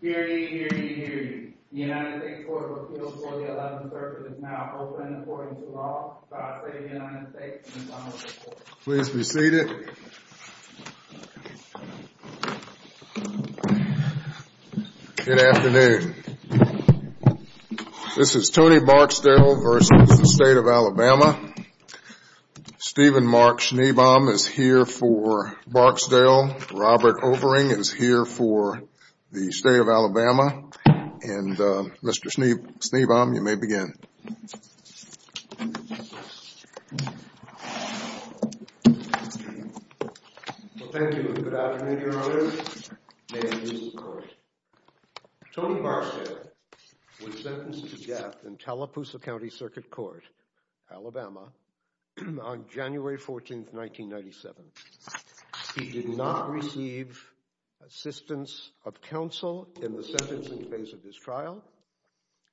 Here he, here he, here he. The United States Court of Appeals for the 11th Circuit is now open according to law by the state of the United States and the Congress of Florida. Please be seated. Good afternoon. This is Tony Barksdale v. the State of Alabama. Stephen Mark Schneebaum is here for Barksdale. Robert Overing is here for the State of Alabama. And Mr. Schneebaum, you may begin. Well, thank you and good afternoon, Your Honor. May it please the Court. Tony Barksdale was sentenced to death in Tallapoosa County Circuit Court, Alabama, on January 14, 1997. He did not receive assistance of counsel in the sentencing phase of his trial.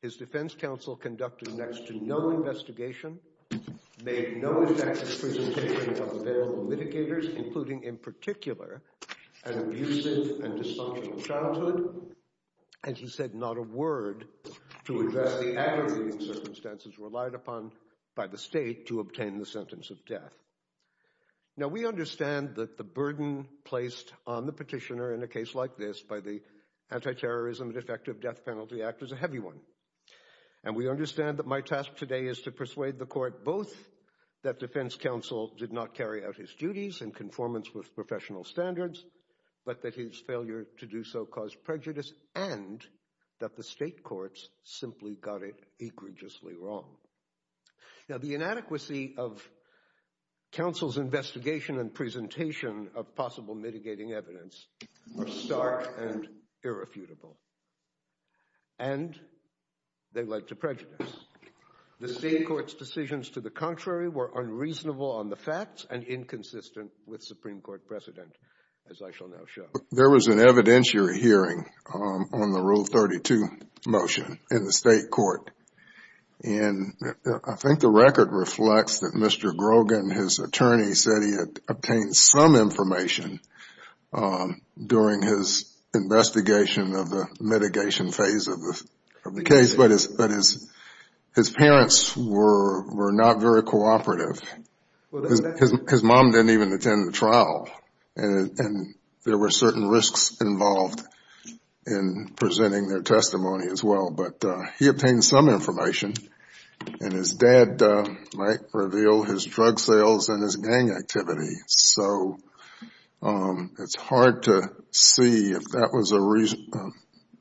His defense counsel conducted next to no investigation, made no effective presentation of available mitigators, including in particular an abusive and dysfunctional childhood. And he said not a word to address the aggravating circumstances relied upon by the state to obtain the sentence of death. Now, we understand that the burden placed on the petitioner in a case like this by the Anti-Terrorism and Effective Death Penalty Act is a heavy one. And we understand that my task today is to persuade the court both that defense counsel did not carry out his duties in conformance with professional standards, but that his failure to do so caused prejudice and that the state courts simply got it egregiously wrong. Now, the inadequacy of counsel's investigation and presentation of possible mitigating evidence are stark and irrefutable. And they led to prejudice. The state court's decisions to the contrary were unreasonable on the facts and inconsistent with Supreme Court precedent, as I shall now show. There was an evidentiary hearing on the Rule 32 motion in the state court. And I think the record reflects that Mr. Grogan, his attorney, said he had obtained some information during his investigation of the mitigation phase of the case. But his parents were not very cooperative. His mom didn't even attend the trial. And there were certain risks involved in presenting their testimony as well. But he obtained some information, and his dad might reveal his drug sales and his gang activity. So it's hard to see if that was a reason.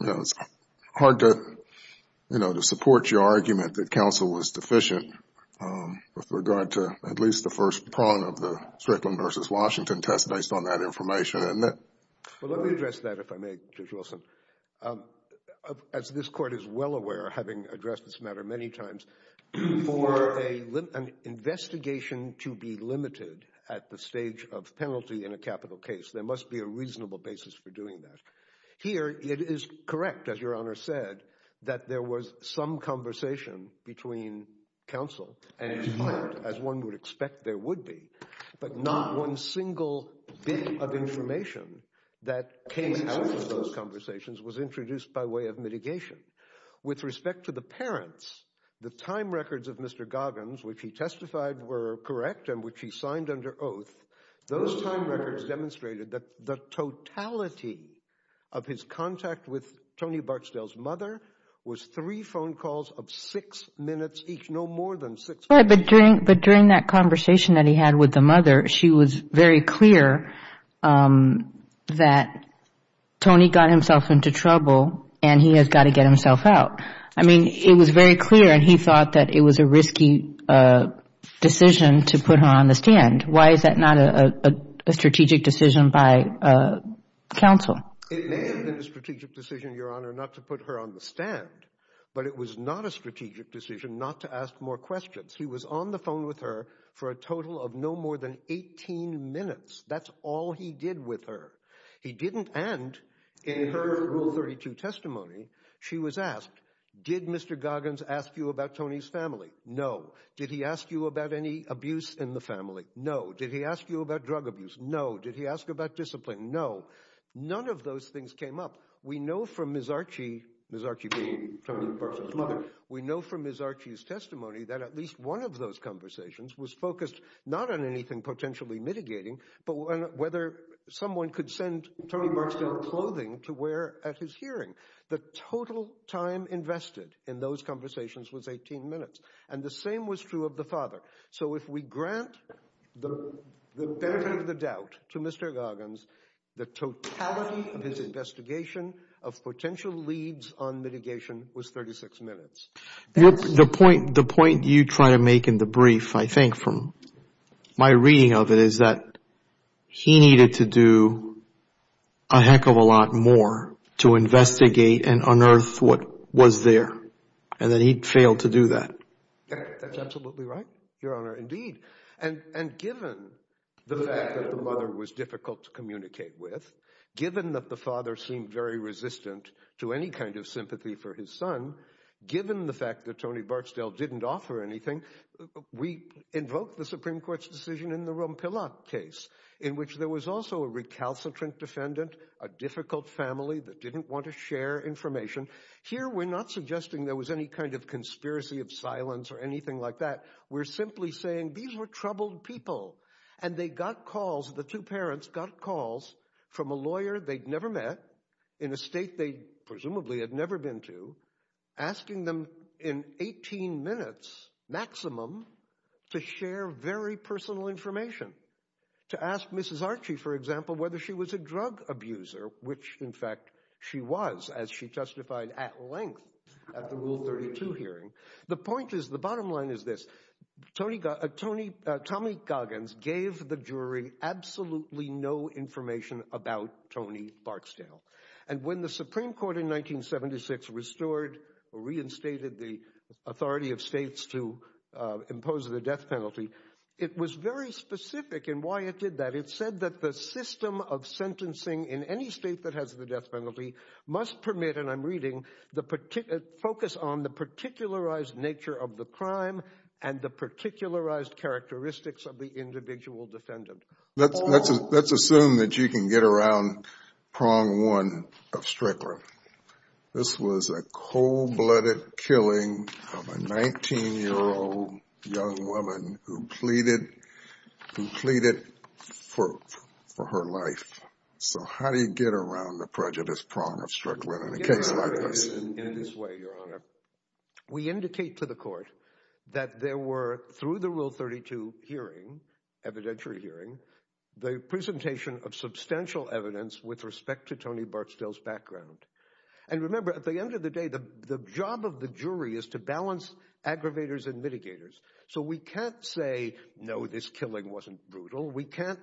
It's hard to support your argument that counsel was deficient with regard to at least the first prong of the Strickland v. Washington test based on that information. Well, let me address that, if I may, Judge Wilson. As this court is well aware, having addressed this matter many times, for an investigation to be limited at the stage of penalty in a capital case, there must be a reasonable basis for doing that. Here it is correct, as Your Honor said, that there was some conversation between counsel and his client, as one would expect there would be. But not one single bit of information that came out of those conversations was introduced by way of mitigation. With respect to the parents, the time records of Mr. Goggins, which he testified were correct and which he signed under oath, those time records demonstrated that the totality of his contact with Tony Barksdale's mother was three phone calls of six minutes each, no more than six minutes. But during that conversation that he had with the mother, she was very clear that Tony got himself into trouble and he has got to get himself out. I mean, it was very clear and he thought that it was a risky decision to put her on the stand. Why is that not a strategic decision by counsel? It may have been a strategic decision, Your Honor, not to put her on the stand, but it was not a strategic decision not to ask more questions. He was on the phone with her for a total of no more than 18 minutes. That's all he did with her. He didn't, and in her Rule 32 testimony, she was asked, did Mr. Goggins ask you about Tony's family? No. Did he ask you about any abuse in the family? No. Did he ask you about drug abuse? No. Did he ask about discipline? No. None of those things came up. We know from Ms. Archie, Ms. Archie being Tony Marksdale's mother, we know from Ms. Archie's testimony that at least one of those conversations was focused not on anything potentially mitigating, but whether someone could send Tony Marksdale clothing to wear at his hearing. The total time invested in those conversations was 18 minutes, and the same was true of the father. So if we grant the benefit of the doubt to Mr. Goggins, the totality of his investigation of potential leads on mitigation was 36 minutes. The point you try to make in the brief, I think, from my reading of it is that he needed to do a heck of a lot more to investigate and unearth what was there, and that he failed to do that. That's absolutely right, Your Honor, indeed. And given the fact that the mother was difficult to communicate with, given that the father seemed very resistant to any kind of sympathy for his son, given the fact that Tony Marksdale didn't offer anything, we invoke the Supreme Court's decision in the Rompillot case, in which there was also a recalcitrant defendant, a difficult family that didn't want to share information. Here we're not suggesting there was any kind of conspiracy of silence or anything like that. We're simply saying these were troubled people, and they got calls, the two parents got calls from a lawyer they'd never met in a state they presumably had never been to, asking them in 18 minutes maximum to share very personal information. To ask Mrs. Archie, for example, whether she was a drug abuser, which in fact she was, as she testified at length at the Rule 32 hearing. The bottom line is this, Tommy Goggins gave the jury absolutely no information about Tony Marksdale. And when the Supreme Court in 1976 restored or reinstated the authority of states to impose the death penalty, it was very specific in why it did that. It said that the system of sentencing in any state that has the death penalty must permit, and I'm reading, focus on the particularized nature of the crime and the particularized characteristics of the individual defendant. Let's assume that you can get around prong one of Strickland. This was a cold-blooded killing of a 19-year-old young woman who pleaded for her life. So how do you get around the prejudice prong of Strickland in a case like this? We indicate to the court that there were, through the Rule 32 hearing, evidentiary hearing, the presentation of substantial evidence with respect to Tony Marksdale's background. And remember, at the end of the day, the job of the jury is to balance aggravators and mitigators. So we can't say, no, this killing wasn't brutal. We can't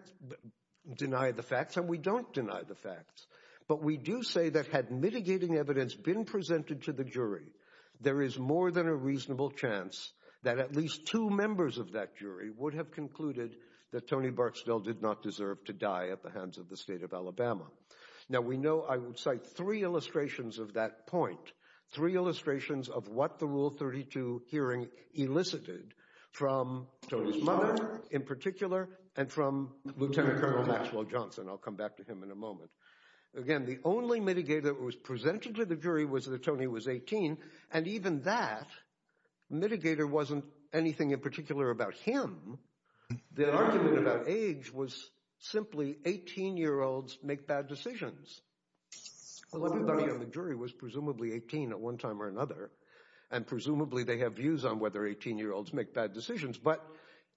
deny the facts and we don't deny the facts. But we do say that had mitigating evidence been presented to the jury, there is more than a reasonable chance that at least two members of that jury would have concluded that Tony Marksdale did not deserve to die at the hands of the state of Alabama. Now, we know I would cite three illustrations of that point, three illustrations of what the Rule 32 hearing elicited from Tony's mother in particular and from Lieutenant Colonel Maxwell Johnson. I'll come back to him in a moment. Again, the only mitigator that was presented to the jury was that Tony was 18. And even that mitigator wasn't anything in particular about him. The argument about age was simply 18-year-olds make bad decisions. The jury was presumably 18 at one time or another, and presumably they have views on whether 18-year-olds make bad decisions. But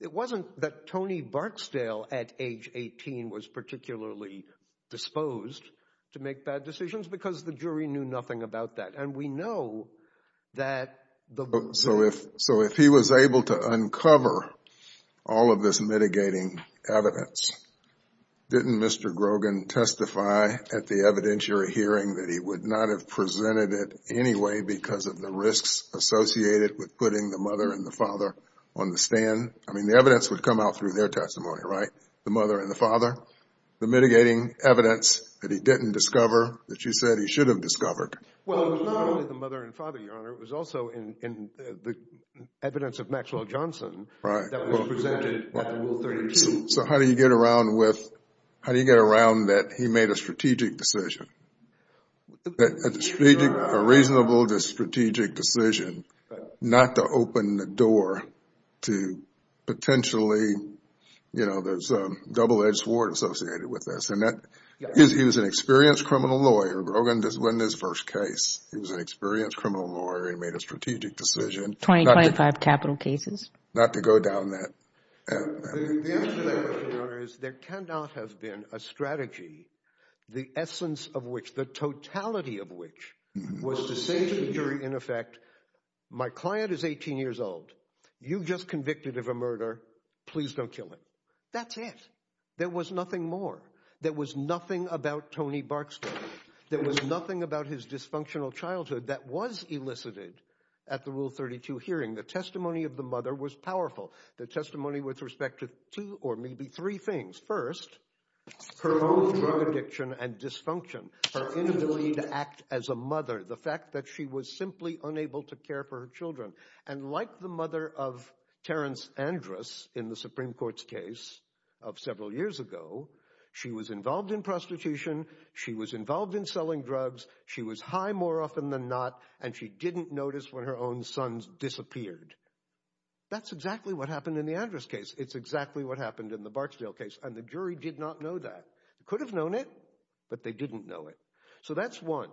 it wasn't that Tony Marksdale at age 18 was particularly disposed to make bad decisions because the jury knew nothing about that. So if he was able to uncover all of this mitigating evidence, didn't Mr. Grogan testify at the evidentiary hearing that he would not have presented it anyway because of the risks associated with putting the mother and the father on the stand? I mean the evidence would come out through their testimony, right? The mother and the father? The mitigating evidence that he didn't discover that you said he should have discovered? Well, it was not only the mother and father, Your Honor. It was also in the evidence of Maxwell Johnson that was presented at the Rule 32. So how do you get around that he made a strategic decision? A reasonable strategic decision not to open the door to potentially, you know, there's a double-edged sword associated with this. He was an experienced criminal lawyer. Grogan didn't win his first case. He was an experienced criminal lawyer. He made a strategic decision. 2025 capital cases? Not to go down that. The answer to that question, Your Honor, is there cannot have been a strategy, the essence of which, the totality of which, was to say to the jury, in effect, my client is 18 years old. You just convicted of a murder. Please don't kill him. That's it. There was nothing more. There was nothing about Tony Barksdale. There was nothing about his dysfunctional childhood that was elicited at the Rule 32 hearing. The testimony of the mother was powerful. The testimony with respect to two or maybe three things. First, her own drug addiction and dysfunction. Her inability to act as a mother. The fact that she was simply unable to care for her children. And like the mother of Terrence Andrus in the Supreme Court's case of several years ago, she was involved in prostitution. She was involved in selling drugs. She was high more often than not. And she didn't notice when her own sons disappeared. That's exactly what happened in the Andrus case. It's exactly what happened in the Barksdale case. And the jury did not know that. Could have known it, but they didn't know it. So that's one.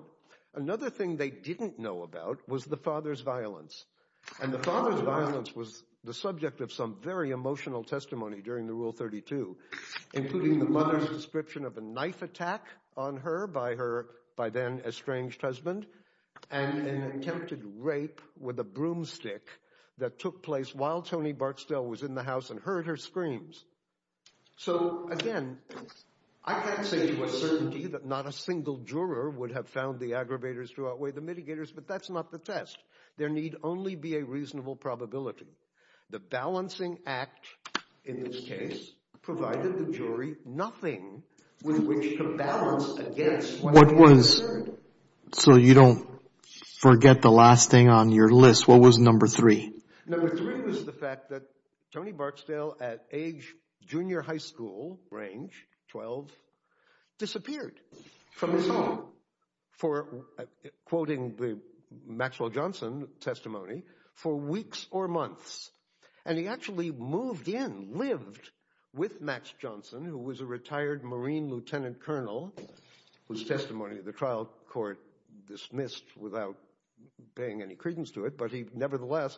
Another thing they didn't know about was the father's violence. And the father's violence was the subject of some very emotional testimony during the Rule 32. Including the mother's description of a knife attack on her by her by then estranged husband. And an attempted rape with a broomstick that took place while Tony Barksdale was in the house and heard her screams. So again, I can't say with certainty that not a single juror would have found the aggravators to outweigh the mitigators. But that's not the test. There need only be a reasonable probability. The balancing act in this case provided the jury nothing with which to balance against what they discerned. So you don't forget the last thing on your list. What was number three? Number three was the fact that Tony Barksdale at age junior high school range 12 disappeared from his home. For quoting the Maxwell Johnson testimony for weeks or months. And he actually moved in, lived with Max Johnson, who was a retired Marine Lieutenant Colonel. Whose testimony the trial court dismissed without paying any credence to it. But he nevertheless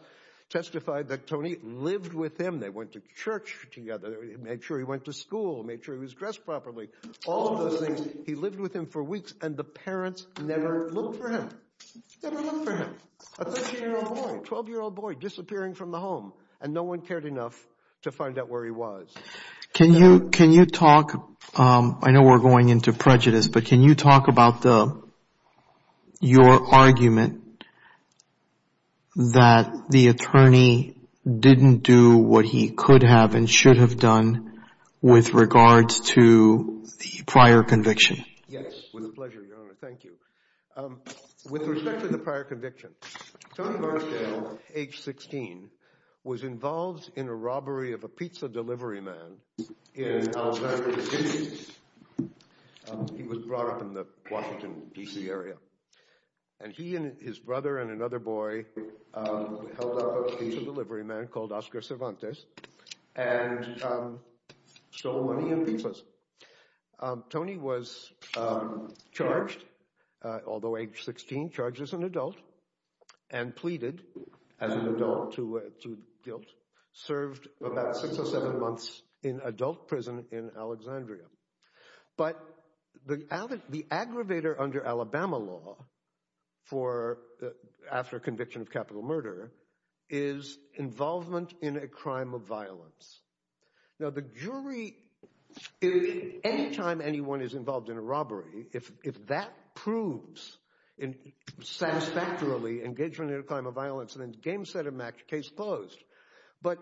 testified that Tony lived with him. They went to church together. Made sure he went to school. Made sure he was dressed properly. All of those things. He lived with him for weeks. And the parents never looked for him. Never looked for him. A 13-year-old boy. 12-year-old boy disappearing from the home. And no one cared enough to find out where he was. Can you talk? I know we're going into prejudice. But can you talk about your argument that the attorney didn't do what he could have and should have done with regards to the prior conviction? Yes. With pleasure, Your Honor. Thank you. With respect to the prior conviction, Tony Marsdale, age 16, was involved in a robbery of a pizza delivery man in Alexandria, D.C. He was brought up in the Washington, D.C. area. And he and his brother and another boy held up a pizza delivery man called Oscar Cervantes and stole money and pizzas. Tony was charged, although age 16, charged as an adult and pleaded as an adult to guilt. Served about six or seven months in adult prison in Alexandria. But the aggravator under Alabama law for after conviction of capital murder is involvement in a crime of violence. Now, the jury, any time anyone is involved in a robbery, if that proves satisfactorily engagement in a crime of violence, then game set and case closed. But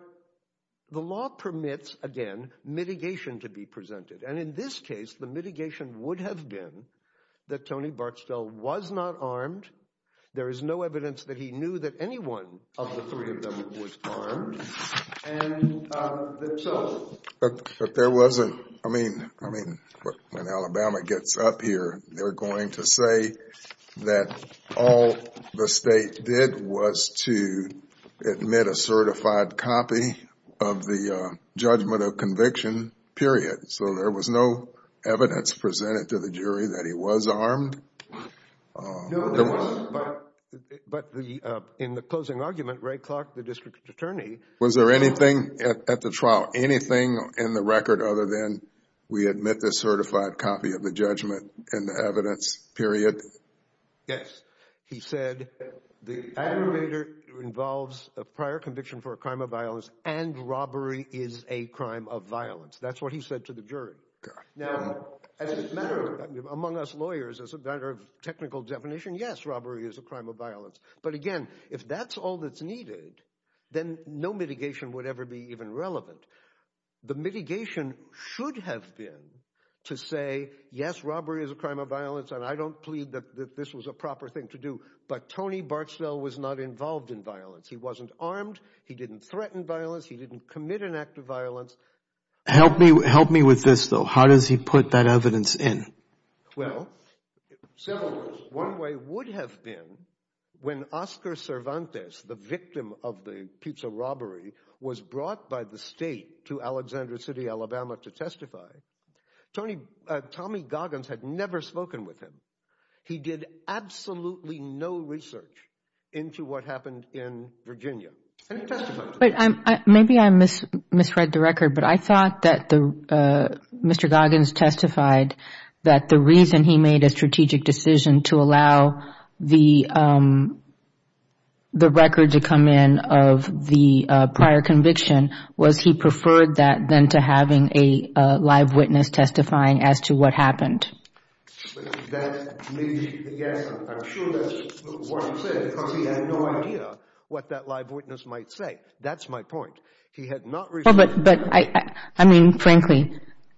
the law permits, again, mitigation to be presented. And in this case, the mitigation would have been that Tony Bartsdale was not armed. There is no evidence that he knew that anyone of the three of them was armed. But there wasn't. I mean, I mean, when Alabama gets up here, they're going to say that all the state did was to admit a certified copy of the judgment of conviction, period. So there was no evidence presented to the jury that he was armed. No, but in the closing argument, Ray Clark, the district attorney. Was there anything at the trial, anything in the record other than we admit the certified copy of the judgment and the evidence, period? Yes. He said the aggravator involves a prior conviction for a crime of violence and robbery is a crime of violence. That's what he said to the jury. Now, among us lawyers, as a matter of technical definition, yes, robbery is a crime of violence. But again, if that's all that's needed, then no mitigation would ever be even relevant. The mitigation should have been to say, yes, robbery is a crime of violence. And I don't plead that this was a proper thing to do. But Tony Bartsdale was not involved in violence. He wasn't armed. He didn't threaten violence. He didn't commit an act of violence. Help me with this, though. How does he put that evidence in? Well, one way would have been when Oscar Cervantes, the victim of the pizza robbery, was brought by the state to Alexandra City, Alabama, to testify. Tommy Goggins had never spoken with him. He did absolutely no research into what happened in Virginia. Maybe I misread the record, but I thought that Mr. Goggins testified that the reason he made a strategic decision to allow the record to come in of the prior conviction was he preferred that than to having a live witness testifying as to what happened. That may be the answer. I'm sure that's what he said because he had no idea what that live witness might say. That's my point. He had not... But, I mean, frankly,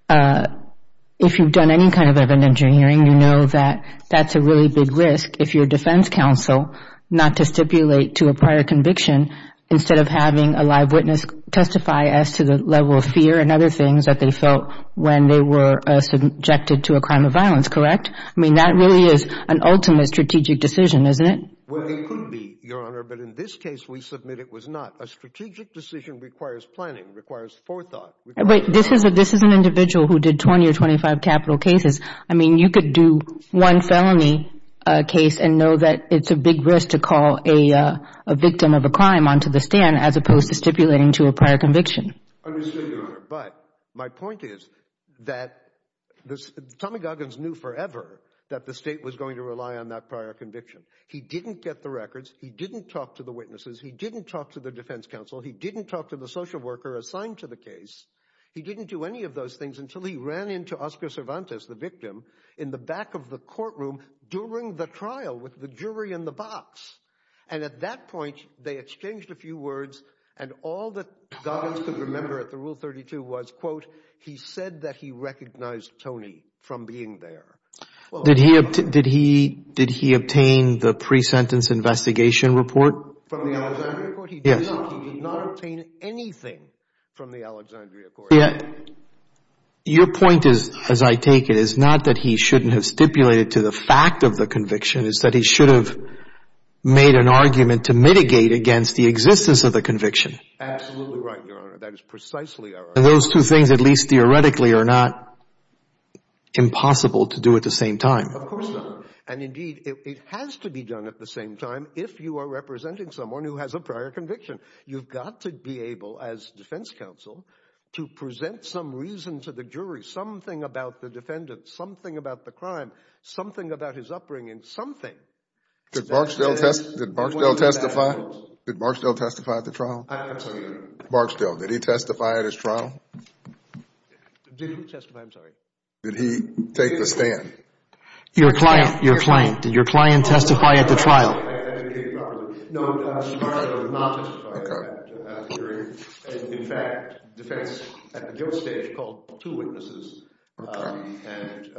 if you've done any kind of evidentiary hearing, you know that that's a really big risk if you're a defense counsel not to stipulate to a prior conviction instead of having a live witness testify as to the level of fear and other things that they felt when they were subjected to a crime of violence, correct? I mean, that really is an ultimate strategic decision, isn't it? Well, it could be, Your Honor, but in this case we submit it was not. A strategic decision requires planning, requires forethought. But this is an individual who did 20 or 25 capital cases. I mean, you could do one felony case and know that it's a big risk to call a victim of a crime onto the stand as opposed to stipulating to a prior conviction. I understand, Your Honor, but my point is that Tommy Goggins knew forever that the state was going to rely on that prior conviction. He didn't get the records. He didn't talk to the witnesses. He didn't talk to the defense counsel. He didn't talk to the social worker assigned to the case. He didn't do any of those things until he ran into Oscar Cervantes, the victim, in the back of the courtroom during the trial with the jury in the box. And at that point, they exchanged a few words, and all that Goggins could remember at the Rule 32 was, quote, he said that he recognized Tony from being there. Did he obtain the pre-sentence investigation report from the Alexandria court? Yes. He did not obtain anything from the Alexandria court. Your point is, as I take it, is not that he shouldn't have stipulated to the fact of the conviction. It's that he should have made an argument to mitigate against the existence of the conviction. Absolutely right, Your Honor. That is precisely our argument. And those two things, at least theoretically, are not impossible to do at the same time. Of course not. And, indeed, it has to be done at the same time if you are representing someone who has a prior conviction. You've got to be able, as defense counsel, to present some reason to the jury, something about the defendant, something about the crime, something about his upbringing, something. Did Barksdale testify? Did Barksdale testify at the trial? I'm sorry. Barksdale, did he testify at his trial? Did he testify? I'm sorry. Did he take the stand? Your client, your client, did your client testify at the trial? No, Barksdale did not testify at the hearing. In fact, defense at the guilt stage called two witnesses and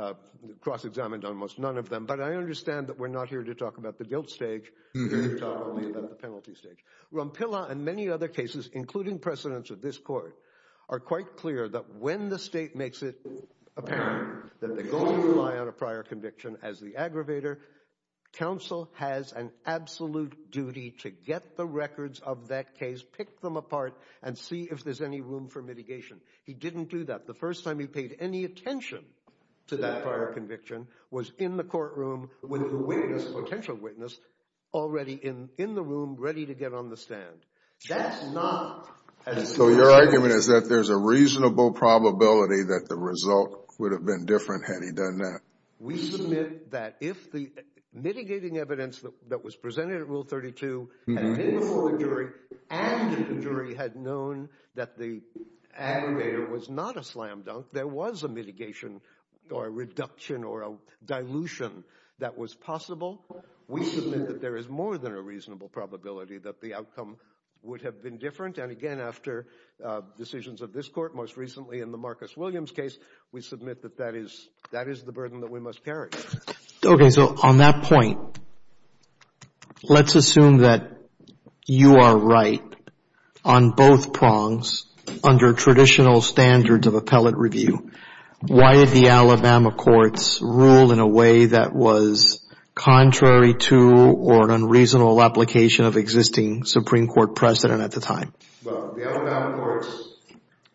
cross-examined almost none of them. But I understand that we're not here to talk about the guilt stage. We're here to talk only about the penalty stage. Rompilla and many other cases, including precedents of this court, are quite clear that when the state makes it apparent that they're going to rely on a prior conviction as the aggravator, counsel has an absolute duty to get the records of that case, pick them apart, and see if there's any room for mitigation. He didn't do that. The first time he paid any attention to that prior conviction was in the courtroom with the witness, potential witness, already in the room ready to get on the stand. That's not as— So your argument is that there's a reasonable probability that the result would have been different had he done that. We submit that if the mitigating evidence that was presented at Rule 32 had been before a jury and the jury had known that the aggravator was not a slam dunk, there was a mitigation or a reduction or a dilution that was possible. We submit that there is more than a reasonable probability that the outcome would have been different. And again, after decisions of this court, most recently in the Marcus Williams case, we submit that that is the burden that we must carry. Okay. So on that point, let's assume that you are right on both prongs under traditional standards of appellate review. Why did the Alabama courts rule in a way that was contrary to or an unreasonable application of existing Supreme Court precedent at the time? Well, the Alabama courts'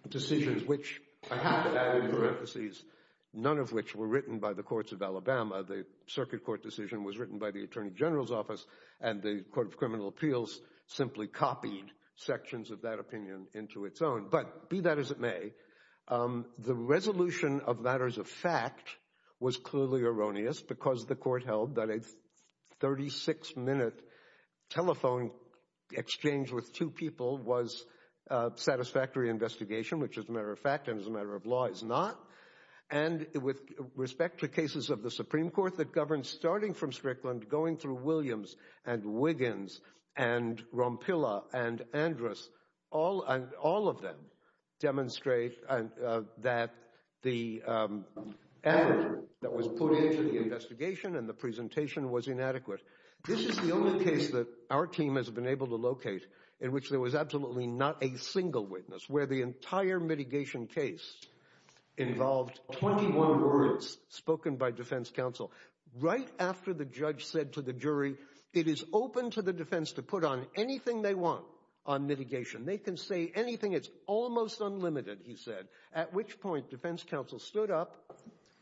decisions, which I have to add in parentheses, none of which were written by the courts of Alabama. The circuit court decision was written by the Attorney General's Office, and the Court of Criminal Appeals simply copied sections of that opinion into its own. But be that as it may, the resolution of matters of fact was clearly erroneous because the court held that a 36-minute telephone exchange with two people was satisfactory investigation, which as a matter of fact and as a matter of law is not. And with respect to cases of the Supreme Court that governs starting from Strickland, going through Williams and Wiggins and Rompilla and Andrus, all of them demonstrate that the effort that was put into the investigation and the presentation was inadequate. This is the only case that our team has been able to locate in which there was absolutely not a single witness, where the entire mitigation case involved 21 words spoken by defense counsel right after the judge said to the jury it is open to the defense to put on anything they want on mitigation. They can say anything. It's almost unlimited, he said, at which point defense counsel stood up,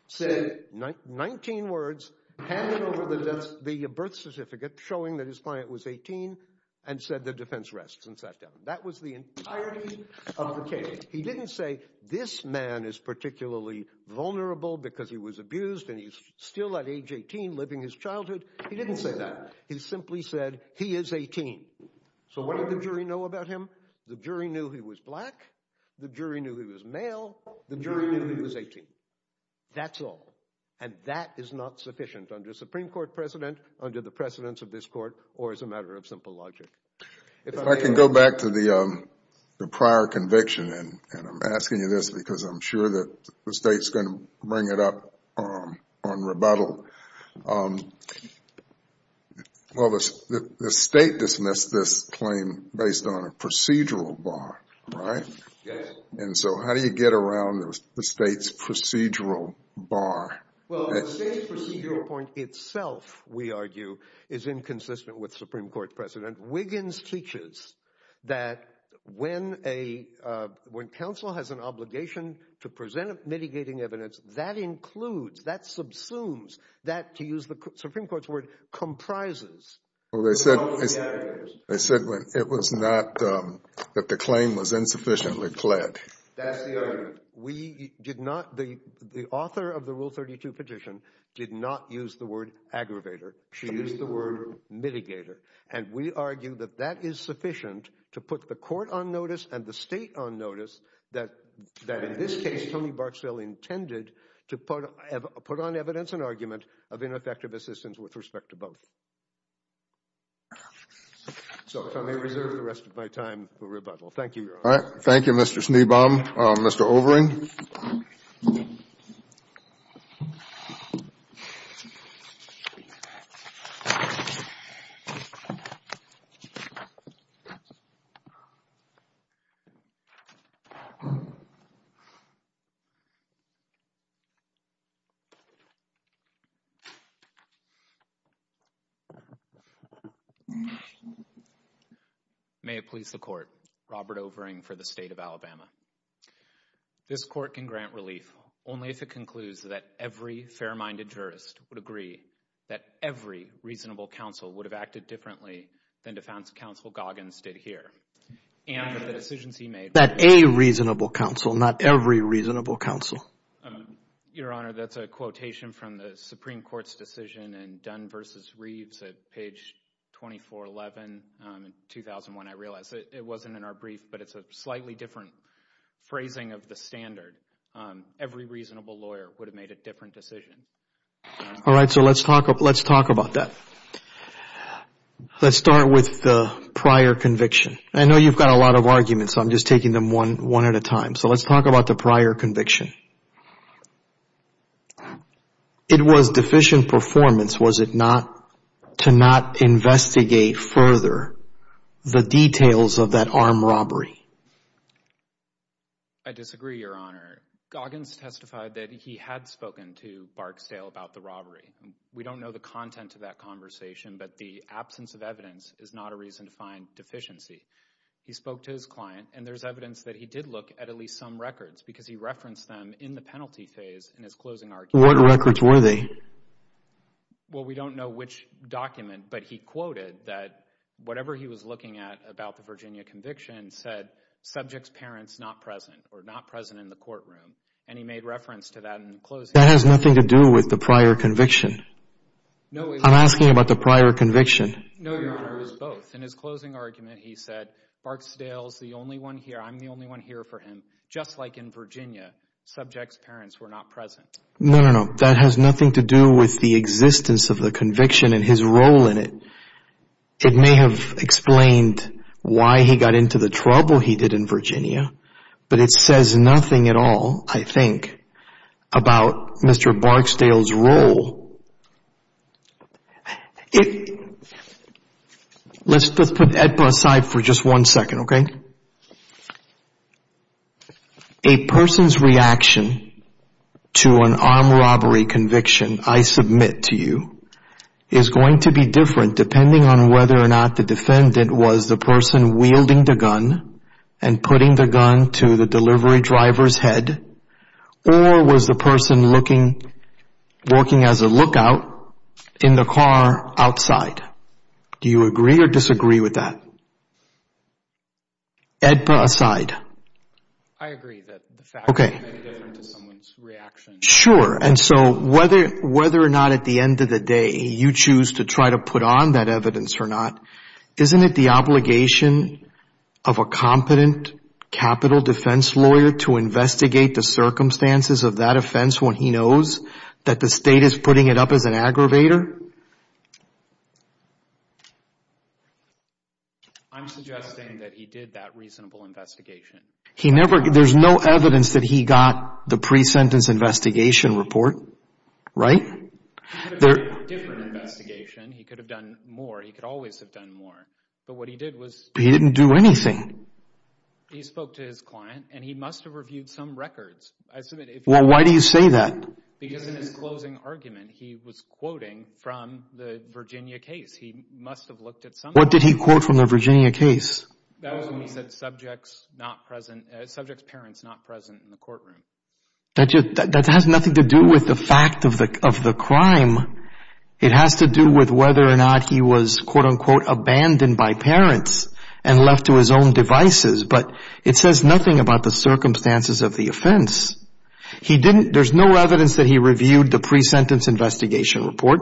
said 19 words, handed over the birth certificate showing that his client was 18 and said the defense rests and sat down. That was the entirety of the case. He didn't say this man is particularly vulnerable because he was abused and he's still at age 18 living his childhood. He didn't say that. He simply said he is 18. So what did the jury know about him? The jury knew he was black. The jury knew he was male. The jury knew he was 18. That's all. And that is not sufficient under Supreme Court precedent, under the precedence of this court, or as a matter of simple logic. If I can go back to the prior conviction, and I'm asking you this because I'm sure that the state's going to bring it up on rebuttal. Well, the state dismissed this claim based on a procedural bar, right? Yes. And so how do you get around the state's procedural bar? Well, the state's procedural point itself, we argue, is inconsistent with Supreme Court precedent. Wiggins teaches that when counsel has an obligation to present mitigating evidence, that includes, that subsumes, that, to use the Supreme Court's word, comprises. Well, they said it was not that the claim was insufficiently clad. That's the argument. The author of the Rule 32 petition did not use the word aggravator. She used the word mitigator. And we argue that that is sufficient to put the court on notice and the state on notice that in this case, Tony Barksdale intended to put on evidence an argument of ineffective assistance with respect to both. So if I may reserve the rest of my time for rebuttal. Thank you, Your Honor. All right. Thank you, Mr. Schneebaum. Mr. Overing? May it please the Court. Robert Overing for the State of Alabama. This court can grant relief only if it concludes that every fair-minded jurist would agree that every reasonable counsel would have acted differently than Defense Counsel Goggins did here. And that the decisions he made— That a reasonable counsel, not every reasonable counsel. Your Honor, that's a quotation from the Supreme Court's decision in Dunn v. Reeves at page 2411 in 2001. I realize it wasn't in our brief, but it's a slightly different phrasing of the standard. Every reasonable lawyer would have made a different decision. All right. So let's talk about that. Let's start with the prior conviction. I know you've got a lot of arguments, so I'm just taking them one at a time. So let's talk about the prior conviction. It was deficient performance, was it not, to not investigate further the details of that armed robbery? I disagree, Your Honor. Goggins testified that he had spoken to Barksdale about the robbery. We don't know the content of that conversation, but the absence of evidence is not a reason to find deficiency. He spoke to his client, and there's evidence that he did look at at least some records because he referenced them in the penalty phase in his closing argument. What records were they? Well, we don't know which document, but he quoted that whatever he was looking at about the Virginia conviction said subjects' parents not present or not present in the courtroom. And he made reference to that in the closing argument. That has nothing to do with the prior conviction. I'm asking about the prior conviction. No, Your Honor, it was both. In his closing argument, he said, Barksdale's the only one here, I'm the only one here for him. Just like in Virginia, subjects' parents were not present. No, no, no. That has nothing to do with the existence of the conviction and his role in it. It may have explained why he got into the trouble he did in Virginia, but it says nothing at all, I think, about Mr. Barksdale's role. Let's put EDPA aside for just one second, okay? A person's reaction to an armed robbery conviction I submit to you is going to be different depending on whether or not the defendant was the person wielding the gun and putting the gun to the delivery driver's head or was the person working as a lookout in the car outside. Do you agree or disagree with that? EDPA aside. I agree that the fact that it's different to someone's reaction. Sure. And so whether or not at the end of the day you choose to try to put on that evidence or not, isn't it the obligation of a competent capital defense lawyer to investigate the circumstances of that offense when he knows that the state is putting it up as an aggravator? I'm suggesting that he did that reasonable investigation. There's no evidence that he got the pre-sentence investigation report, right? He could have done a different investigation. He could have done more. He could always have done more. But what he did was— He didn't do anything. He spoke to his client, and he must have reviewed some records. Well, why do you say that? Because in his closing argument, he was quoting from the Virginia case. He must have looked at some records. What did he quote from the Virginia case? That was when he said subjects parents not present in the courtroom. That has nothing to do with the fact of the crime. It has to do with whether or not he was, quote-unquote, abandoned by parents and left to his own devices. But it says nothing about the circumstances of the offense. There's no evidence that he reviewed the pre-sentence investigation report.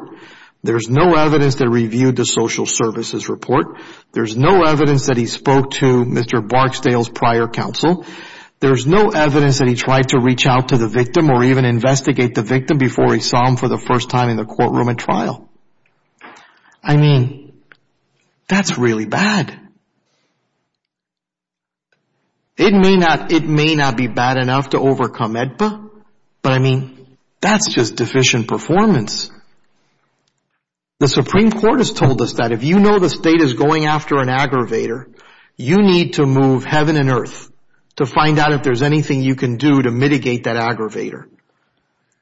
There's no evidence that he reviewed the social services report. There's no evidence that he spoke to Mr. Barksdale's prior counsel. There's no evidence that he tried to reach out to the victim or even investigate the victim before he saw him for the first time in the courtroom at trial. I mean, that's really bad. It may not be bad enough to overcome AEDPA, but, I mean, that's just deficient performance. The Supreme Court has told us that if you know the state is going after an aggravator, you need to move heaven and earth to find out if there's anything you can do to mitigate that aggravator,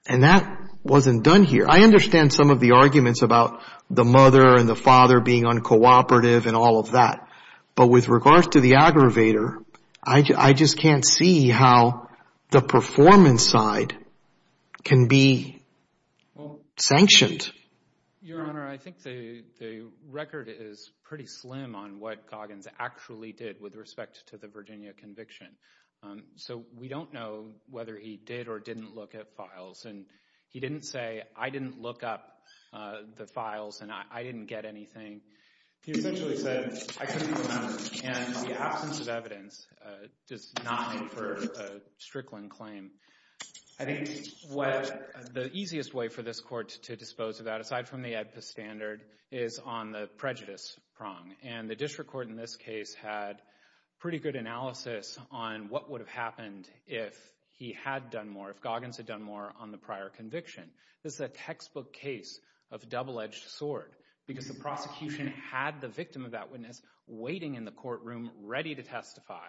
and that wasn't done here. I understand some of the arguments about the mother and the father being uncooperative and all of that, but with regards to the aggravator, I just can't see how the performance side can be sanctioned. Your Honor, I think the record is pretty slim on what Goggins actually did with respect to the Virginia conviction. So we don't know whether he did or didn't look at files, and he didn't say, I didn't look up the files and I didn't get anything. He essentially said, I couldn't find them, and the absence of evidence does not make for a strickling claim. I think the easiest way for this Court to dispose of that, aside from the AEDPA standard, is on the prejudice prong, and the district court in this case had pretty good analysis on what would have happened if he had done more, if Goggins had done more on the prior conviction. This is a textbook case of a double-edged sword, because the prosecution had the victim of that witness waiting in the courtroom ready to testify,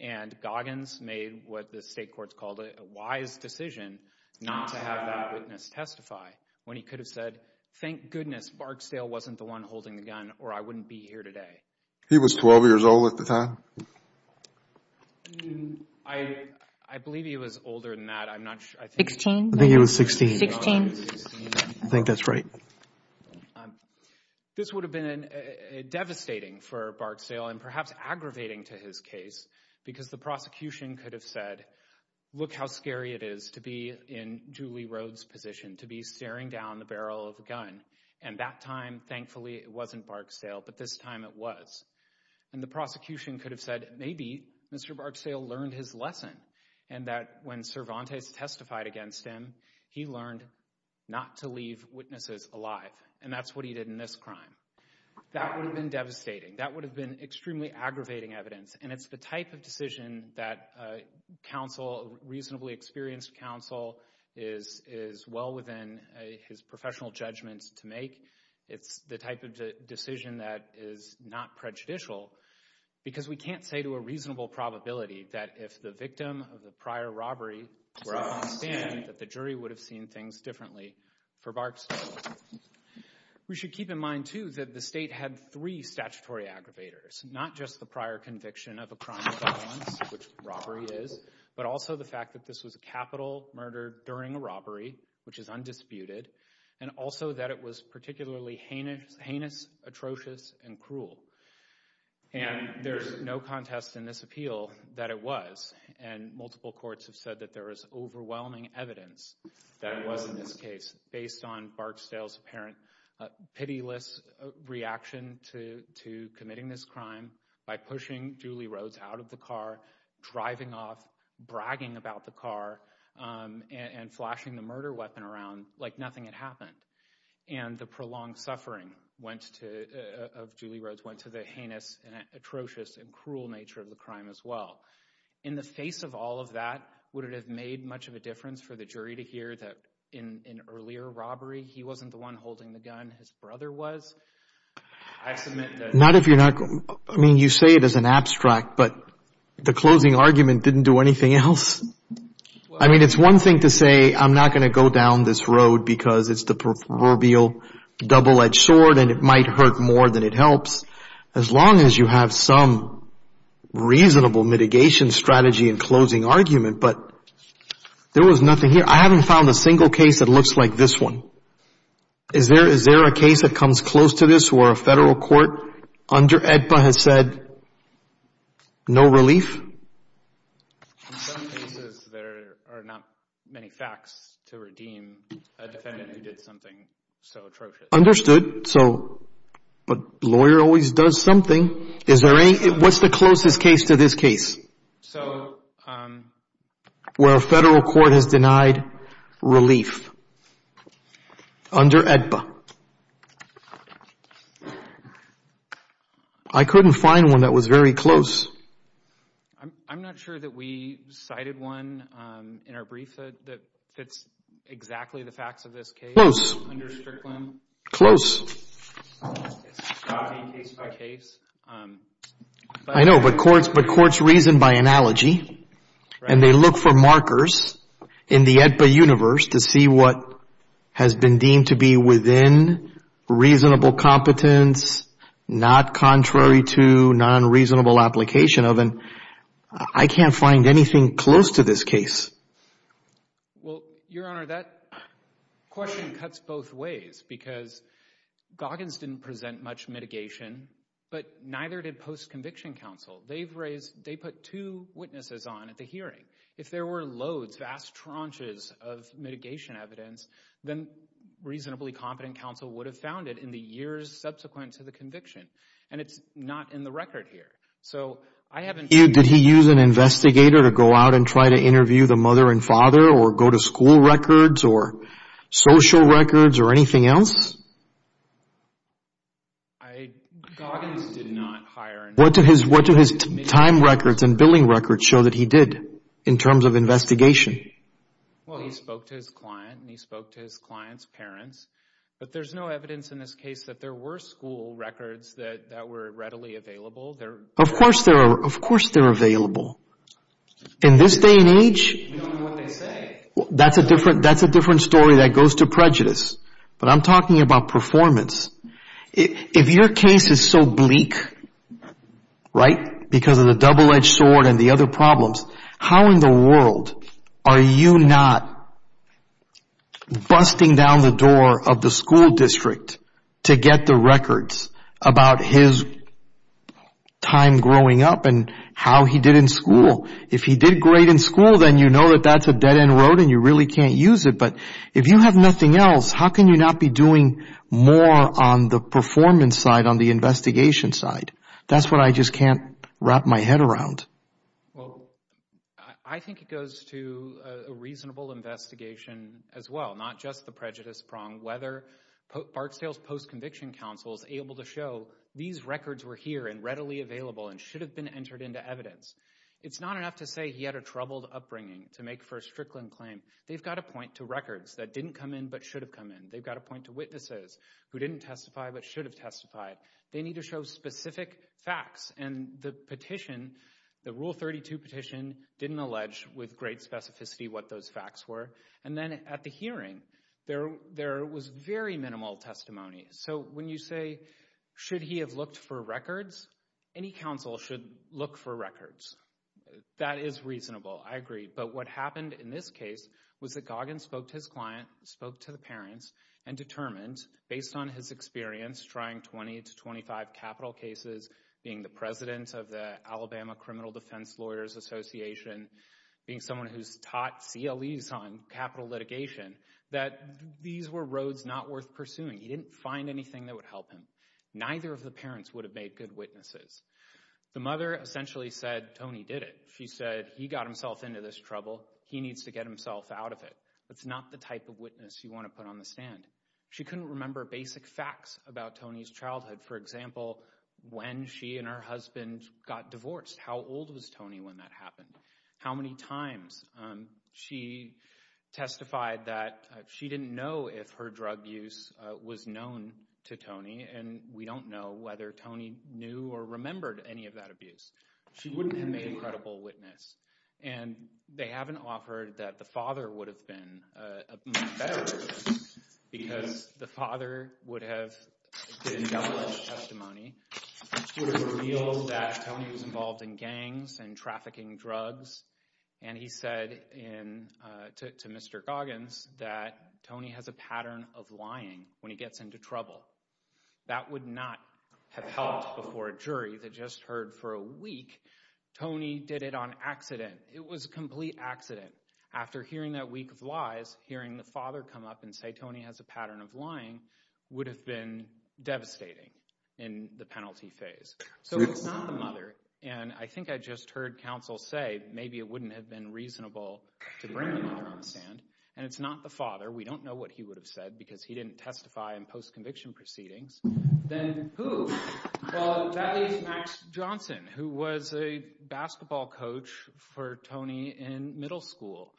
and Goggins made what the state courts called a wise decision not to have that witness testify when he could have said, thank goodness Barksdale wasn't the one holding the gun or I wouldn't be here today. He was 12 years old at the time? I believe he was older than that. I'm not sure. 16? I think he was 16. 16. I think that's right. This would have been devastating for Barksdale, and perhaps aggravating to his case, because the prosecution could have said, look how scary it is to be in Julie Rhodes' position, to be staring down the barrel of a gun, and that time, thankfully, it wasn't Barksdale, but this time it was. And the prosecution could have said, maybe Mr. Barksdale learned his lesson, and that when Cervantes testified against him, he learned not to leave witnesses alive, and that's what he did in this crime. That would have been devastating. That would have been extremely aggravating evidence, and it's the type of decision that a reasonably experienced counsel is well within his professional judgments to make. It's the type of decision that is not prejudicial, because we can't say to a reasonable probability that if the victim of the prior robbery were up on the stand, that the jury would have seen things differently for Barksdale. We should keep in mind, too, that the state had three statutory aggravators, not just the prior conviction of a crime of violence, which robbery is, but also the fact that this was a capital murder during a robbery, which is undisputed, and also that it was particularly heinous, atrocious, and cruel. And there's no contest in this appeal that it was, and multiple courts have said that there is overwhelming evidence that it was in this case, based on Barksdale's apparent pitiless reaction to committing this crime by pushing Julie Rhodes out of the car, driving off, bragging about the car, and flashing the murder weapon around like nothing had happened. And the prolonged suffering of Julie Rhodes went to the heinous, atrocious, and cruel nature of the crime as well. In the face of all of that, would it have made much of a difference for the jury to hear that in an earlier robbery, he wasn't the one holding the gun, his brother was? Not if you're not – I mean, you say it as an abstract, but the closing argument didn't do anything else. I mean, it's one thing to say, I'm not going to go down this road because it's the proverbial double-edged sword and it might hurt more than it helps, as long as you have some reasonable mitigation strategy in closing argument. But there was nothing here. I haven't found a single case that looks like this one. Is there a case that comes close to this where a federal court under AEDPA has said, no relief? In some cases, there are not many facts to redeem a defendant who did something so atrocious. Understood. But a lawyer always does something. What's the closest case to this case? So – Where a federal court has denied relief under AEDPA. I couldn't find one that was very close. I'm not sure that we cited one in our brief that fits exactly the facts of this case. Close. Under Strickland. Close. It's shocking case by case. I know, but courts reason by analogy and they look for markers in the AEDPA universe to see what has been deemed to be within reasonable competence, not contrary to non-reasonable application of, and I can't find anything close to this case. Well, Your Honor, that question cuts both ways because Goggins didn't present much mitigation, but neither did post-conviction counsel. They put two witnesses on at the hearing. If there were loads, vast tranches of mitigation evidence, then reasonably competent counsel would have found it in the years subsequent to the conviction. And it's not in the record here. Did he use an investigator to go out and try to interview the mother and father or go to school records or social records or anything else? What do his time records and billing records show that he did in terms of investigation? Well, he spoke to his client and he spoke to his client's parents, but there's no evidence in this case that there were school records that were readily available. Of course they're available. In this day and age, that's a different story that goes to prejudice. But I'm talking about performance. If your case is so bleak, right, because of the double-edged sword and the other problems, how in the world are you not busting down the door of the school district to get the records about his time growing up and how he did in school? If he did great in school, then you know that that's a dead-end road and you really can't use it. But if you have nothing else, how can you not be doing more on the performance side, on the investigation side? That's what I just can't wrap my head around. Well, I think it goes to a reasonable investigation as well, not just the prejudice prong. Whether Barksdale's post-conviction counsel is able to show these records were here and readily available and should have been entered into evidence. It's not enough to say he had a troubled upbringing to make for a Strickland claim. They've got to point to records that didn't come in but should have come in. They've got to point to witnesses who didn't testify but should have testified. They need to show specific facts, and the petition, the Rule 32 petition, didn't allege with great specificity what those facts were. And then at the hearing, there was very minimal testimony. So when you say, should he have looked for records? Any counsel should look for records. That is reasonable. I agree. But what happened in this case was that Goggin spoke to his client, spoke to the parents, and determined, based on his experience trying 20 to 25 capital cases, being the president of the Alabama Criminal Defense Lawyers Association, being someone who's taught CLEs on capital litigation, that these were roads not worth pursuing. He didn't find anything that would help him. Neither of the parents would have made good witnesses. The mother essentially said, Tony did it. She said, he got himself into this trouble. He needs to get himself out of it. That's not the type of witness you want to put on the stand. She couldn't remember basic facts about Tony's childhood, for example, when she and her husband got divorced. How old was Tony when that happened? How many times? She testified that she didn't know if her drug use was known to Tony, and we don't know whether Tony knew or remembered any of that abuse. She wouldn't have made a credible witness. And they haven't offered that the father would have been a much better witness because the father would have been doubtless a testimony. She would have revealed that Tony was involved in gangs and trafficking drugs, and he said to Mr. Goggins that Tony has a pattern of lying when he gets into trouble. That would not have helped before a jury that just heard for a week, Tony did it on accident. It was a complete accident. After hearing that week of lies, hearing the father come up and say Tony has a pattern of lying would have been devastating in the penalty phase. So if it's not the mother, and I think I just heard counsel say maybe it wouldn't have been reasonable to bring the mother on the stand, and it's not the father, we don't know what he would have said because he didn't testify in post-conviction proceedings, then who? Well, that is Max Johnson, who was a basketball coach for Tony in middle school.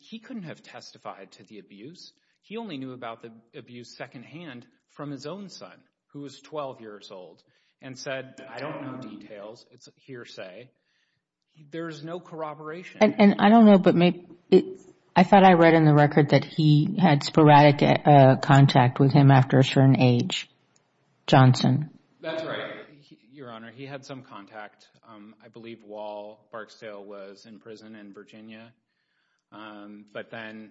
He couldn't have testified to the abuse. He only knew about the abuse secondhand from his own son, who was 12 years old, and said I don't know details, it's a hearsay. There is no corroboration. And I don't know, but I thought I read in the record that he had sporadic contact with him after a certain age, Johnson. That's right, Your Honor. He had some contact. I believe Wall Barksdale was in prison in Virginia. But then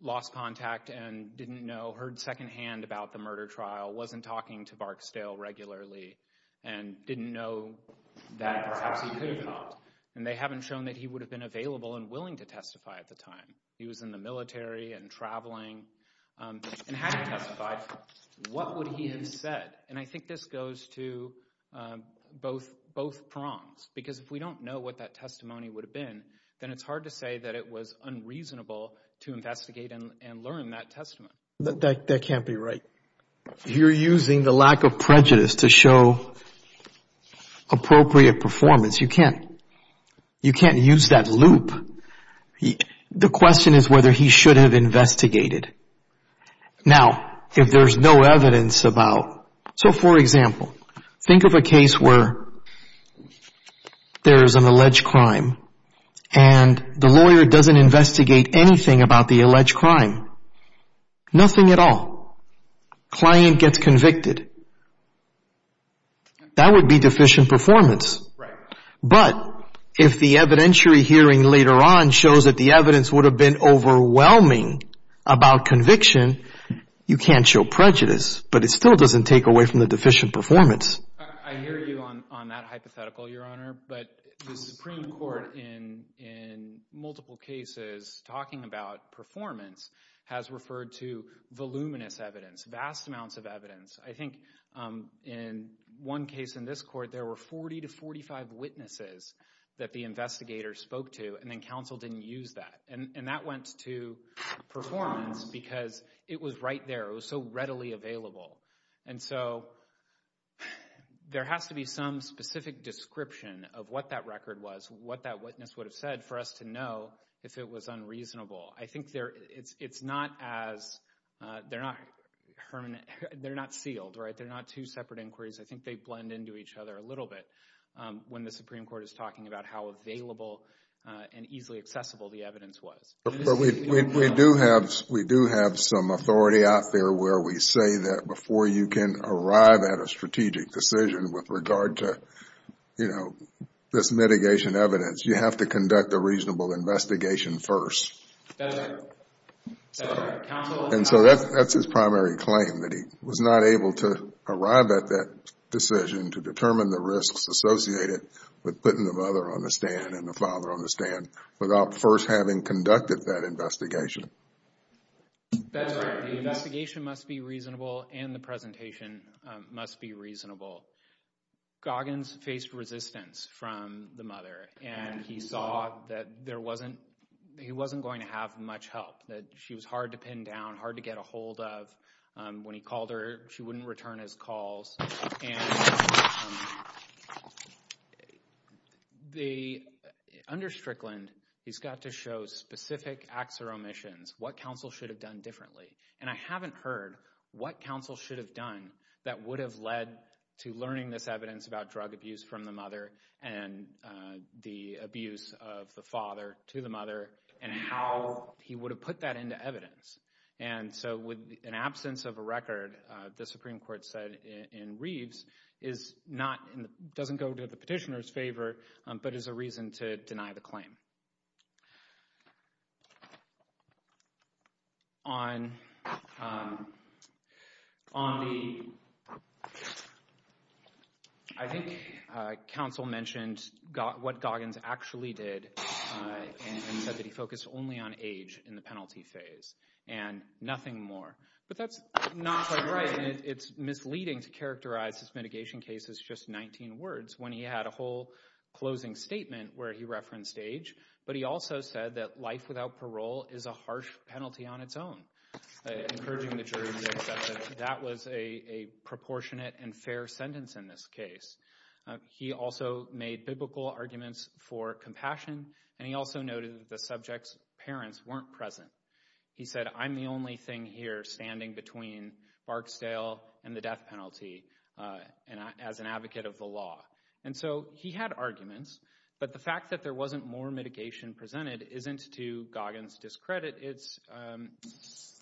lost contact and didn't know, heard secondhand about the murder trial, wasn't talking to Barksdale regularly, and didn't know that perhaps he could have talked. And they haven't shown that he would have been available and willing to testify at the time. He was in the military and traveling and hadn't testified. What would he have said? And I think this goes to both prongs, because if we don't know what that testimony would have been, then it's hard to say that it was unreasonable to investigate and learn that testimony. That can't be right. You're using the lack of prejudice to show appropriate performance. You can't use that loop. The question is whether he should have investigated. Now, if there's no evidence about, so for example, think of a case where there is an alleged crime and the lawyer doesn't investigate anything about the alleged crime. Nothing at all. Client gets convicted. That would be deficient performance. But if the evidentiary hearing later on shows that the evidence would have been overwhelming about conviction, you can't show prejudice. But it still doesn't take away from the deficient performance. I hear you on that hypothetical, Your Honor. But the Supreme Court in multiple cases talking about performance has referred to voluminous evidence, vast amounts of evidence. I think in one case in this court, there were 40 to 45 witnesses that the investigator spoke to, and then counsel didn't use that. And that went to performance because it was right there. It was so readily available. And so there has to be some specific description of what that record was, what that witness would have said for us to know if it was unreasonable. I think it's not as—they're not sealed. They're not two separate inquiries. I think they blend into each other a little bit when the Supreme Court is talking about how available and easily accessible the evidence was. We do have some authority out there where we say that before you can arrive at a strategic decision with regard to, you know, this mitigation evidence, you have to conduct a reasonable investigation first. That's right. And so that's his primary claim, that he was not able to arrive at that decision to determine the risks associated with putting the mother on the stand and the father on the stand without first having conducted that investigation. That's right. The investigation must be reasonable, and the presentation must be reasonable. Goggins faced resistance from the mother, and he saw that there wasn't—he wasn't going to have much help, that she was hard to pin down, hard to get a hold of. When he called her, she wouldn't return his calls. And under Strickland, he's got to show specific acts or omissions, what counsel should have done differently. And I haven't heard what counsel should have done that would have led to learning this evidence about drug abuse from the mother and the abuse of the father to the mother and how he would have put that into evidence. And so with an absence of a record, the Supreme Court said in Reeves, is not—doesn't go to the petitioner's favor, but is a reason to deny the claim. I think counsel mentioned what Goggins actually did and said that he focused only on age in the penalty phase and nothing more. But that's not quite right, and it's misleading to characterize this mitigation case as just 19 words when he had a whole closing statement where he referenced age. But he also said that life without parole is a harsh penalty on its own, encouraging the jury to accept that that was a proportionate and fair sentence in this case. He also made biblical arguments for compassion, and he also noted that the subject's parents weren't present. He said, I'm the only thing here standing between Barksdale and the death penalty as an advocate of the law. And so he had arguments, but the fact that there wasn't more mitigation presented isn't to Goggins' discredit. It's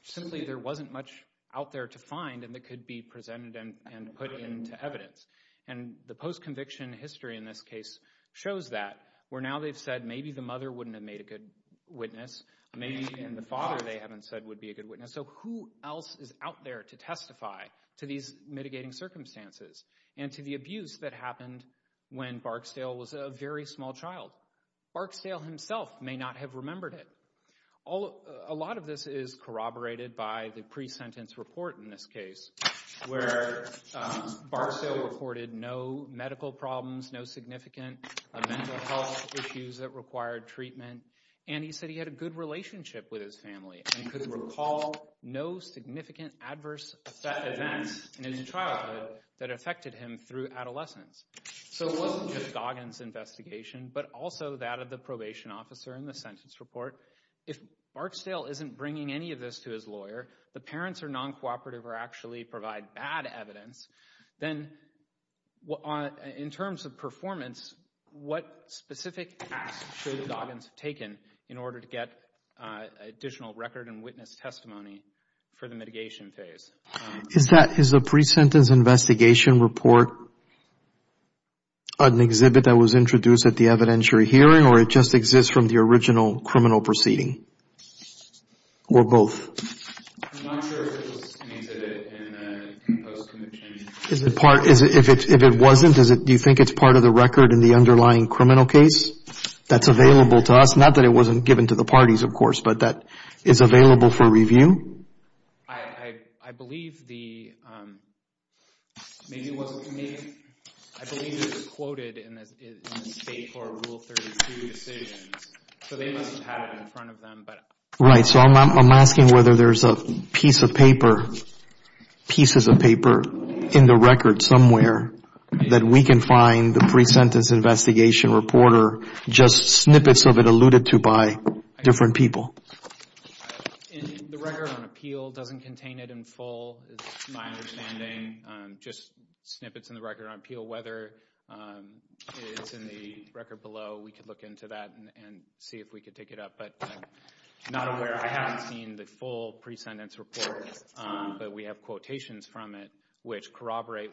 simply there wasn't much out there to find and that could be presented and put into evidence. And the post-conviction history in this case shows that, where now they've said maybe the mother wouldn't have made a good witness, maybe even the father they haven't said would be a good witness. So who else is out there to testify to these mitigating circumstances and to the abuse that happened when Barksdale was a very small child? Barksdale himself may not have remembered it. A lot of this is corroborated by the pre-sentence report in this case where Barksdale reported no medical problems, no significant mental health issues that required treatment, and he said he had a good relationship with his family and could recall no significant adverse events in his childhood that affected him through adolescence. So it wasn't just Goggins' investigation, but also that of the probation officer in the sentence report. If Barksdale isn't bringing any of this to his lawyer, the parents are non-cooperative or actually provide bad evidence, then in terms of performance, what specific actions should Goggins have taken in order to get additional record and witness testimony for the mitigation phase? Is the pre-sentence investigation report an exhibit that was introduced at the evidentiary hearing or it just exists from the original criminal proceeding? Or both? If it wasn't, do you think it's part of the record in the underlying criminal case that's available to us? Not that it wasn't given to the parties, of course, but that it's available for review? I believe it was quoted in the state for Rule 32 decisions, so they must have had it in front of them. Right, so I'm asking whether there's a piece of paper, pieces of paper in the record somewhere that we can find the pre-sentence investigation report or just snippets of it alluded to by different people. The record on appeal doesn't contain it in full, is my understanding. Just snippets in the record on appeal, whether it's in the record below, we could look into that and see if we could take it up, but I'm not aware. I haven't seen the full pre-sentence report, but we have quotations from it which corroborate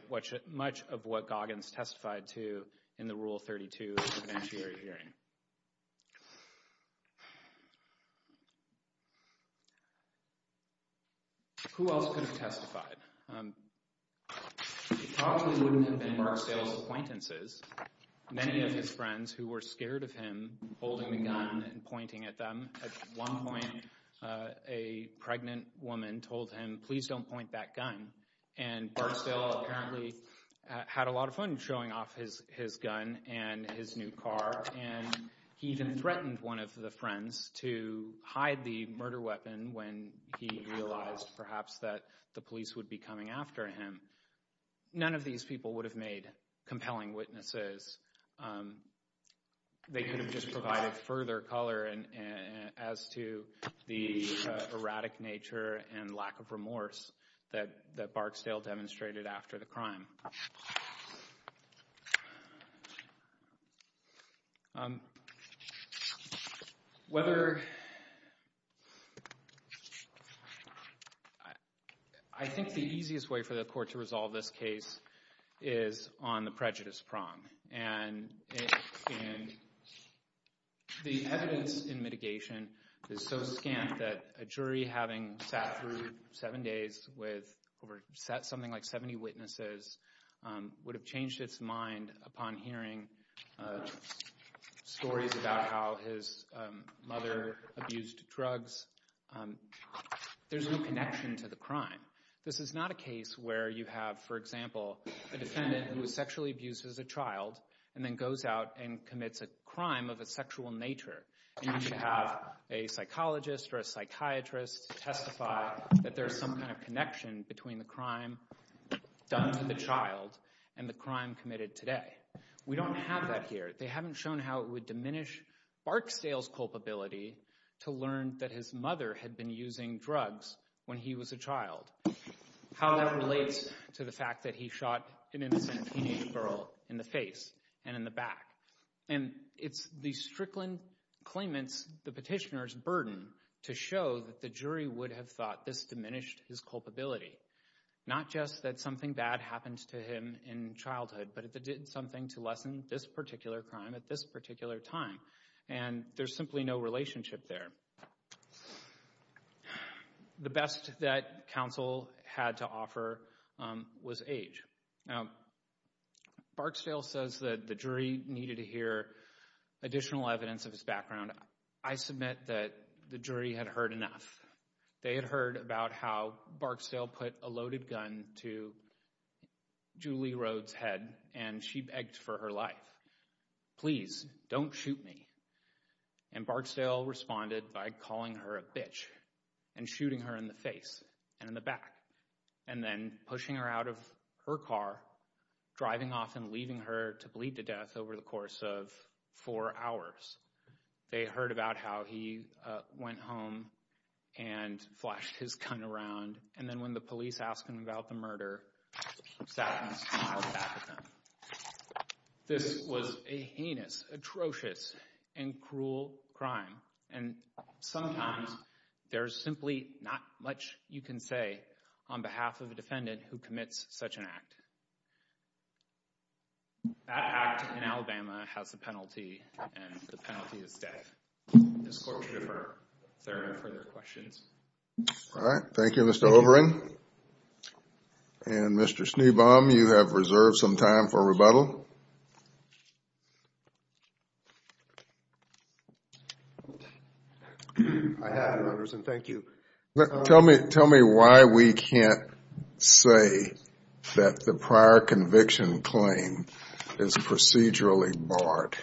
much of what Goggins testified to in the Rule 32 evidentiary hearing. Who else could have testified? It probably wouldn't have been Mark Sales' acquaintances. Many of his friends who were scared of him holding the gun and pointing at them. At one point, a pregnant woman told him, please don't point that gun, and Mark Sales apparently had a lot of fun showing off his gun and his new car, and he even threatened one of the friends to hide the murder weapon when he realized perhaps that the police would be coming after him. None of these people would have made compelling witnesses. They could have just provided further color as to the erratic nature and lack of remorse that Barksdale demonstrated after the crime. Whether... I think the easiest way for the court to resolve this case is on the prejudice prong, and the evidence in mitigation is so scant that a jury having sat through seven days with something like 70 witnesses would have changed its mind upon hearing stories about how his mother abused drugs. There's no connection to the crime. This is not a case where you have, for example, a defendant who was sexually abused as a child and then goes out and commits a crime of a sexual nature, and you should have a psychologist or a psychiatrist testify that there's some kind of connection between the crime done to the child and the crime committed today. We don't have that here. They haven't shown how it would diminish Barksdale's culpability to learn that his mother had been using drugs when he was a child, how that relates to the fact that he shot an innocent teenage girl in the face and in the back. And it's the Strickland claimant's, the petitioner's, burden to show that the jury would have thought this diminished his culpability, not just that something bad happened to him in childhood, but that it did something to lessen this particular crime at this particular time. And there's simply no relationship there. The best that counsel had to offer was age. Now, Barksdale says that the jury needed to hear additional evidence of his background. I submit that the jury had heard enough. They had heard about how Barksdale put a loaded gun to Julie Rode's head, and she begged for her life. Please, don't shoot me. And Barksdale responded by calling her a bitch and shooting her in the face and in the back, and then pushing her out of her car, driving off and leaving her to bleed to death over the course of four hours. They heard about how he went home and flashed his gun around, and then when the police asked him about the murder, he sat in his car in the back of them. This was a heinous, atrocious, and cruel crime. And sometimes there's simply not much you can say on behalf of a defendant who commits such an act. That act in Alabama has a penalty, and the penalty is death. This court should defer if there are no further questions. All right. Thank you, Mr. Overin. And Mr. Schneebaum, you have reserved some time for rebuttal. I have, Your Honors, and thank you. Tell me why we can't say that the prior conviction claim is procedurally barred.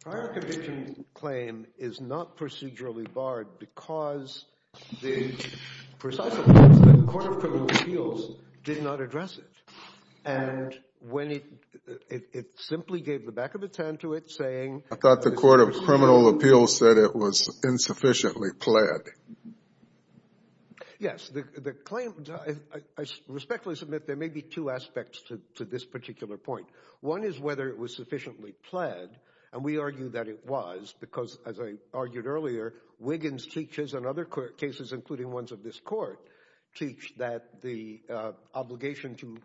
Prior conviction claim is not procedurally barred because the precise evidence that the Court of Criminal Appeals did not address it. And when it simply gave the back of its hand to it, saying... I thought the Court of Criminal Appeals said it was insufficiently pled. Yes, the claim... I respectfully submit there may be two aspects to this particular point. One is whether it was sufficiently pled, and we argue that it was, because, as I argued earlier, Wiggins teaches, and other cases, including ones of this court, teach that the obligation to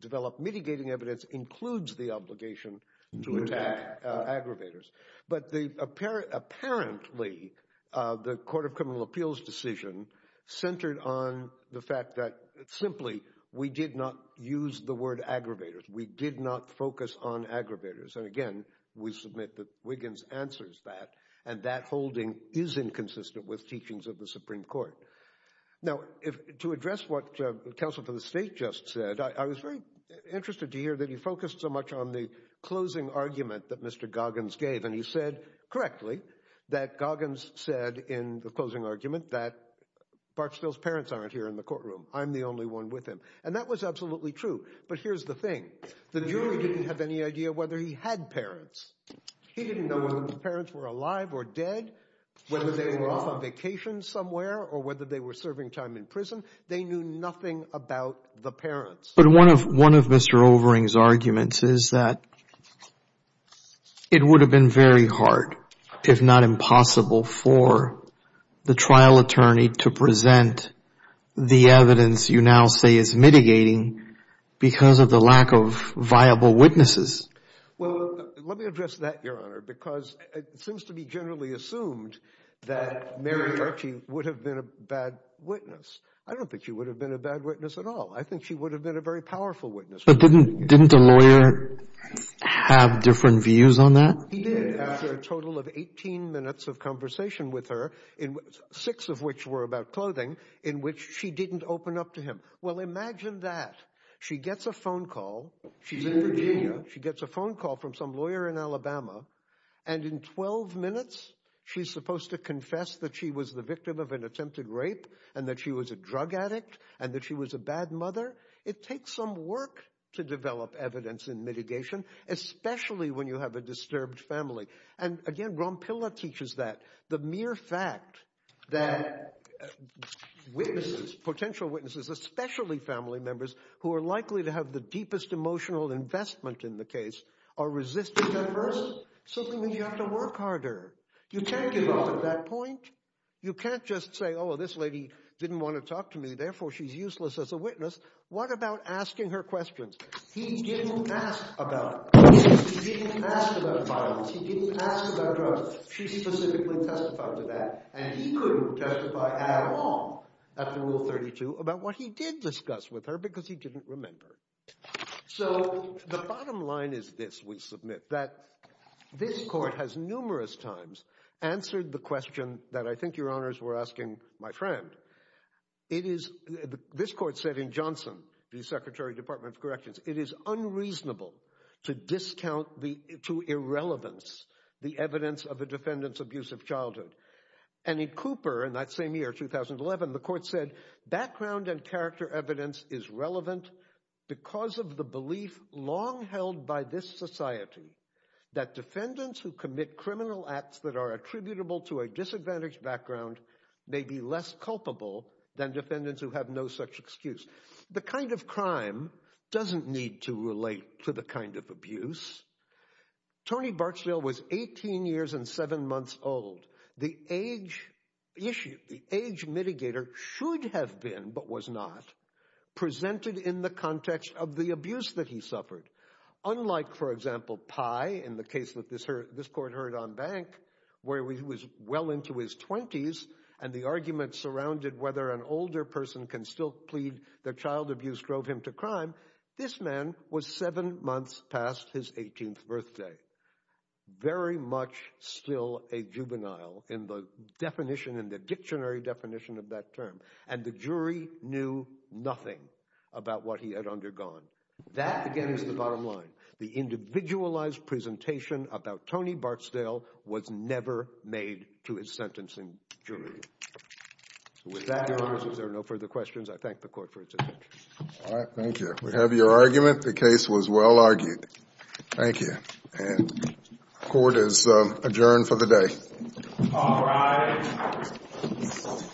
develop mitigating evidence includes the obligation to attack aggravators. But apparently, the Court of Criminal Appeals' decision centered on the fact that, simply, we did not use the word aggravators. We did not focus on aggravators. And, again, we submit that Wiggins answers that, and that holding is inconsistent with teachings of the Supreme Court. Now, to address what the Counsel for the State just said, I was very interested to hear that he focused so much on the closing argument that Mr. Goggins gave, and he said, correctly, that Goggins said in the closing argument that Barksdale's parents aren't here in the courtroom. I'm the only one with him. And that was absolutely true. But here's the thing. The jury didn't have any idea whether he had parents. He didn't know whether the parents were alive or dead, whether they were off on vacation somewhere, or whether they were serving time in prison. They knew nothing about the parents. But one of Mr. Overing's arguments is that it would have been very hard, if not impossible, for the trial attorney to present the evidence you now say is mitigating because of the lack of viable witnesses. Well, let me address that, Your Honor, because it seems to be generally assumed that Mary Archie would have been a bad witness. I don't think she would have been a bad witness at all. I think she would have been a very powerful witness. But didn't the lawyer have different views on that? He did, after a total of 18 minutes of conversation with her, six of which were about clothing, in which she didn't open up to him. Well, imagine that. She gets a phone call. She's in Virginia. She gets a phone call from some lawyer in Alabama, and in 12 minutes she's supposed to confess that she was the victim of an attempted rape, and that she was a drug addict, and that she was a bad mother. It takes some work to develop evidence in mitigation, especially when you have a disturbed family. And again, Ron Pilla teaches that. The mere fact that witnesses, potential witnesses, especially family members who are likely to have the deepest emotional investment in the case, are resisting at first, simply means you have to work harder. You can't give up at that point. You can't just say, oh, this lady didn't want to talk to me, therefore she's useless as a witness. What about asking her questions? He didn't ask about violence. He didn't ask about drugs. She specifically testified to that. And he couldn't testify at all, after Rule 32, about what he did discuss with her, because he didn't remember. So the bottom line is this, we submit, that this court has numerous times answered the question that I think your honors were asking my friend. This court said in Johnson, the Secretary of Department of Corrections, it is unreasonable to discount to irrelevance the evidence of a defendant's abusive childhood. And in Cooper, in that same year, 2011, the court said, background and character evidence is relevant because of the belief long held by this society that defendants who commit criminal acts that are attributable to a disadvantaged background may be less culpable than defendants who have no such excuse. The kind of crime doesn't need to relate to the kind of abuse. Tony Barksdale was 18 years and 7 months old. The age issue, the age mitigator, should have been, but was not, presented in the context of the abuse that he suffered. Unlike, for example, Pye, in the case that this court heard on Bank, where he was well into his 20s, and the argument surrounded whether an older person can still plead that child abuse drove him to crime, this man was 7 months past his 18th birthday. Very much still a juvenile in the dictionary definition of that term. And the jury knew nothing about what he had undergone. That, again, is the bottom line. The individualized presentation about Tony Barksdale was never made to his sentencing jury. So with that, if there are no further questions, I thank the court for its attention. All right, thank you. We have your argument. The case was well argued. Thank you. And court is adjourned for the day. All rise. Thank you.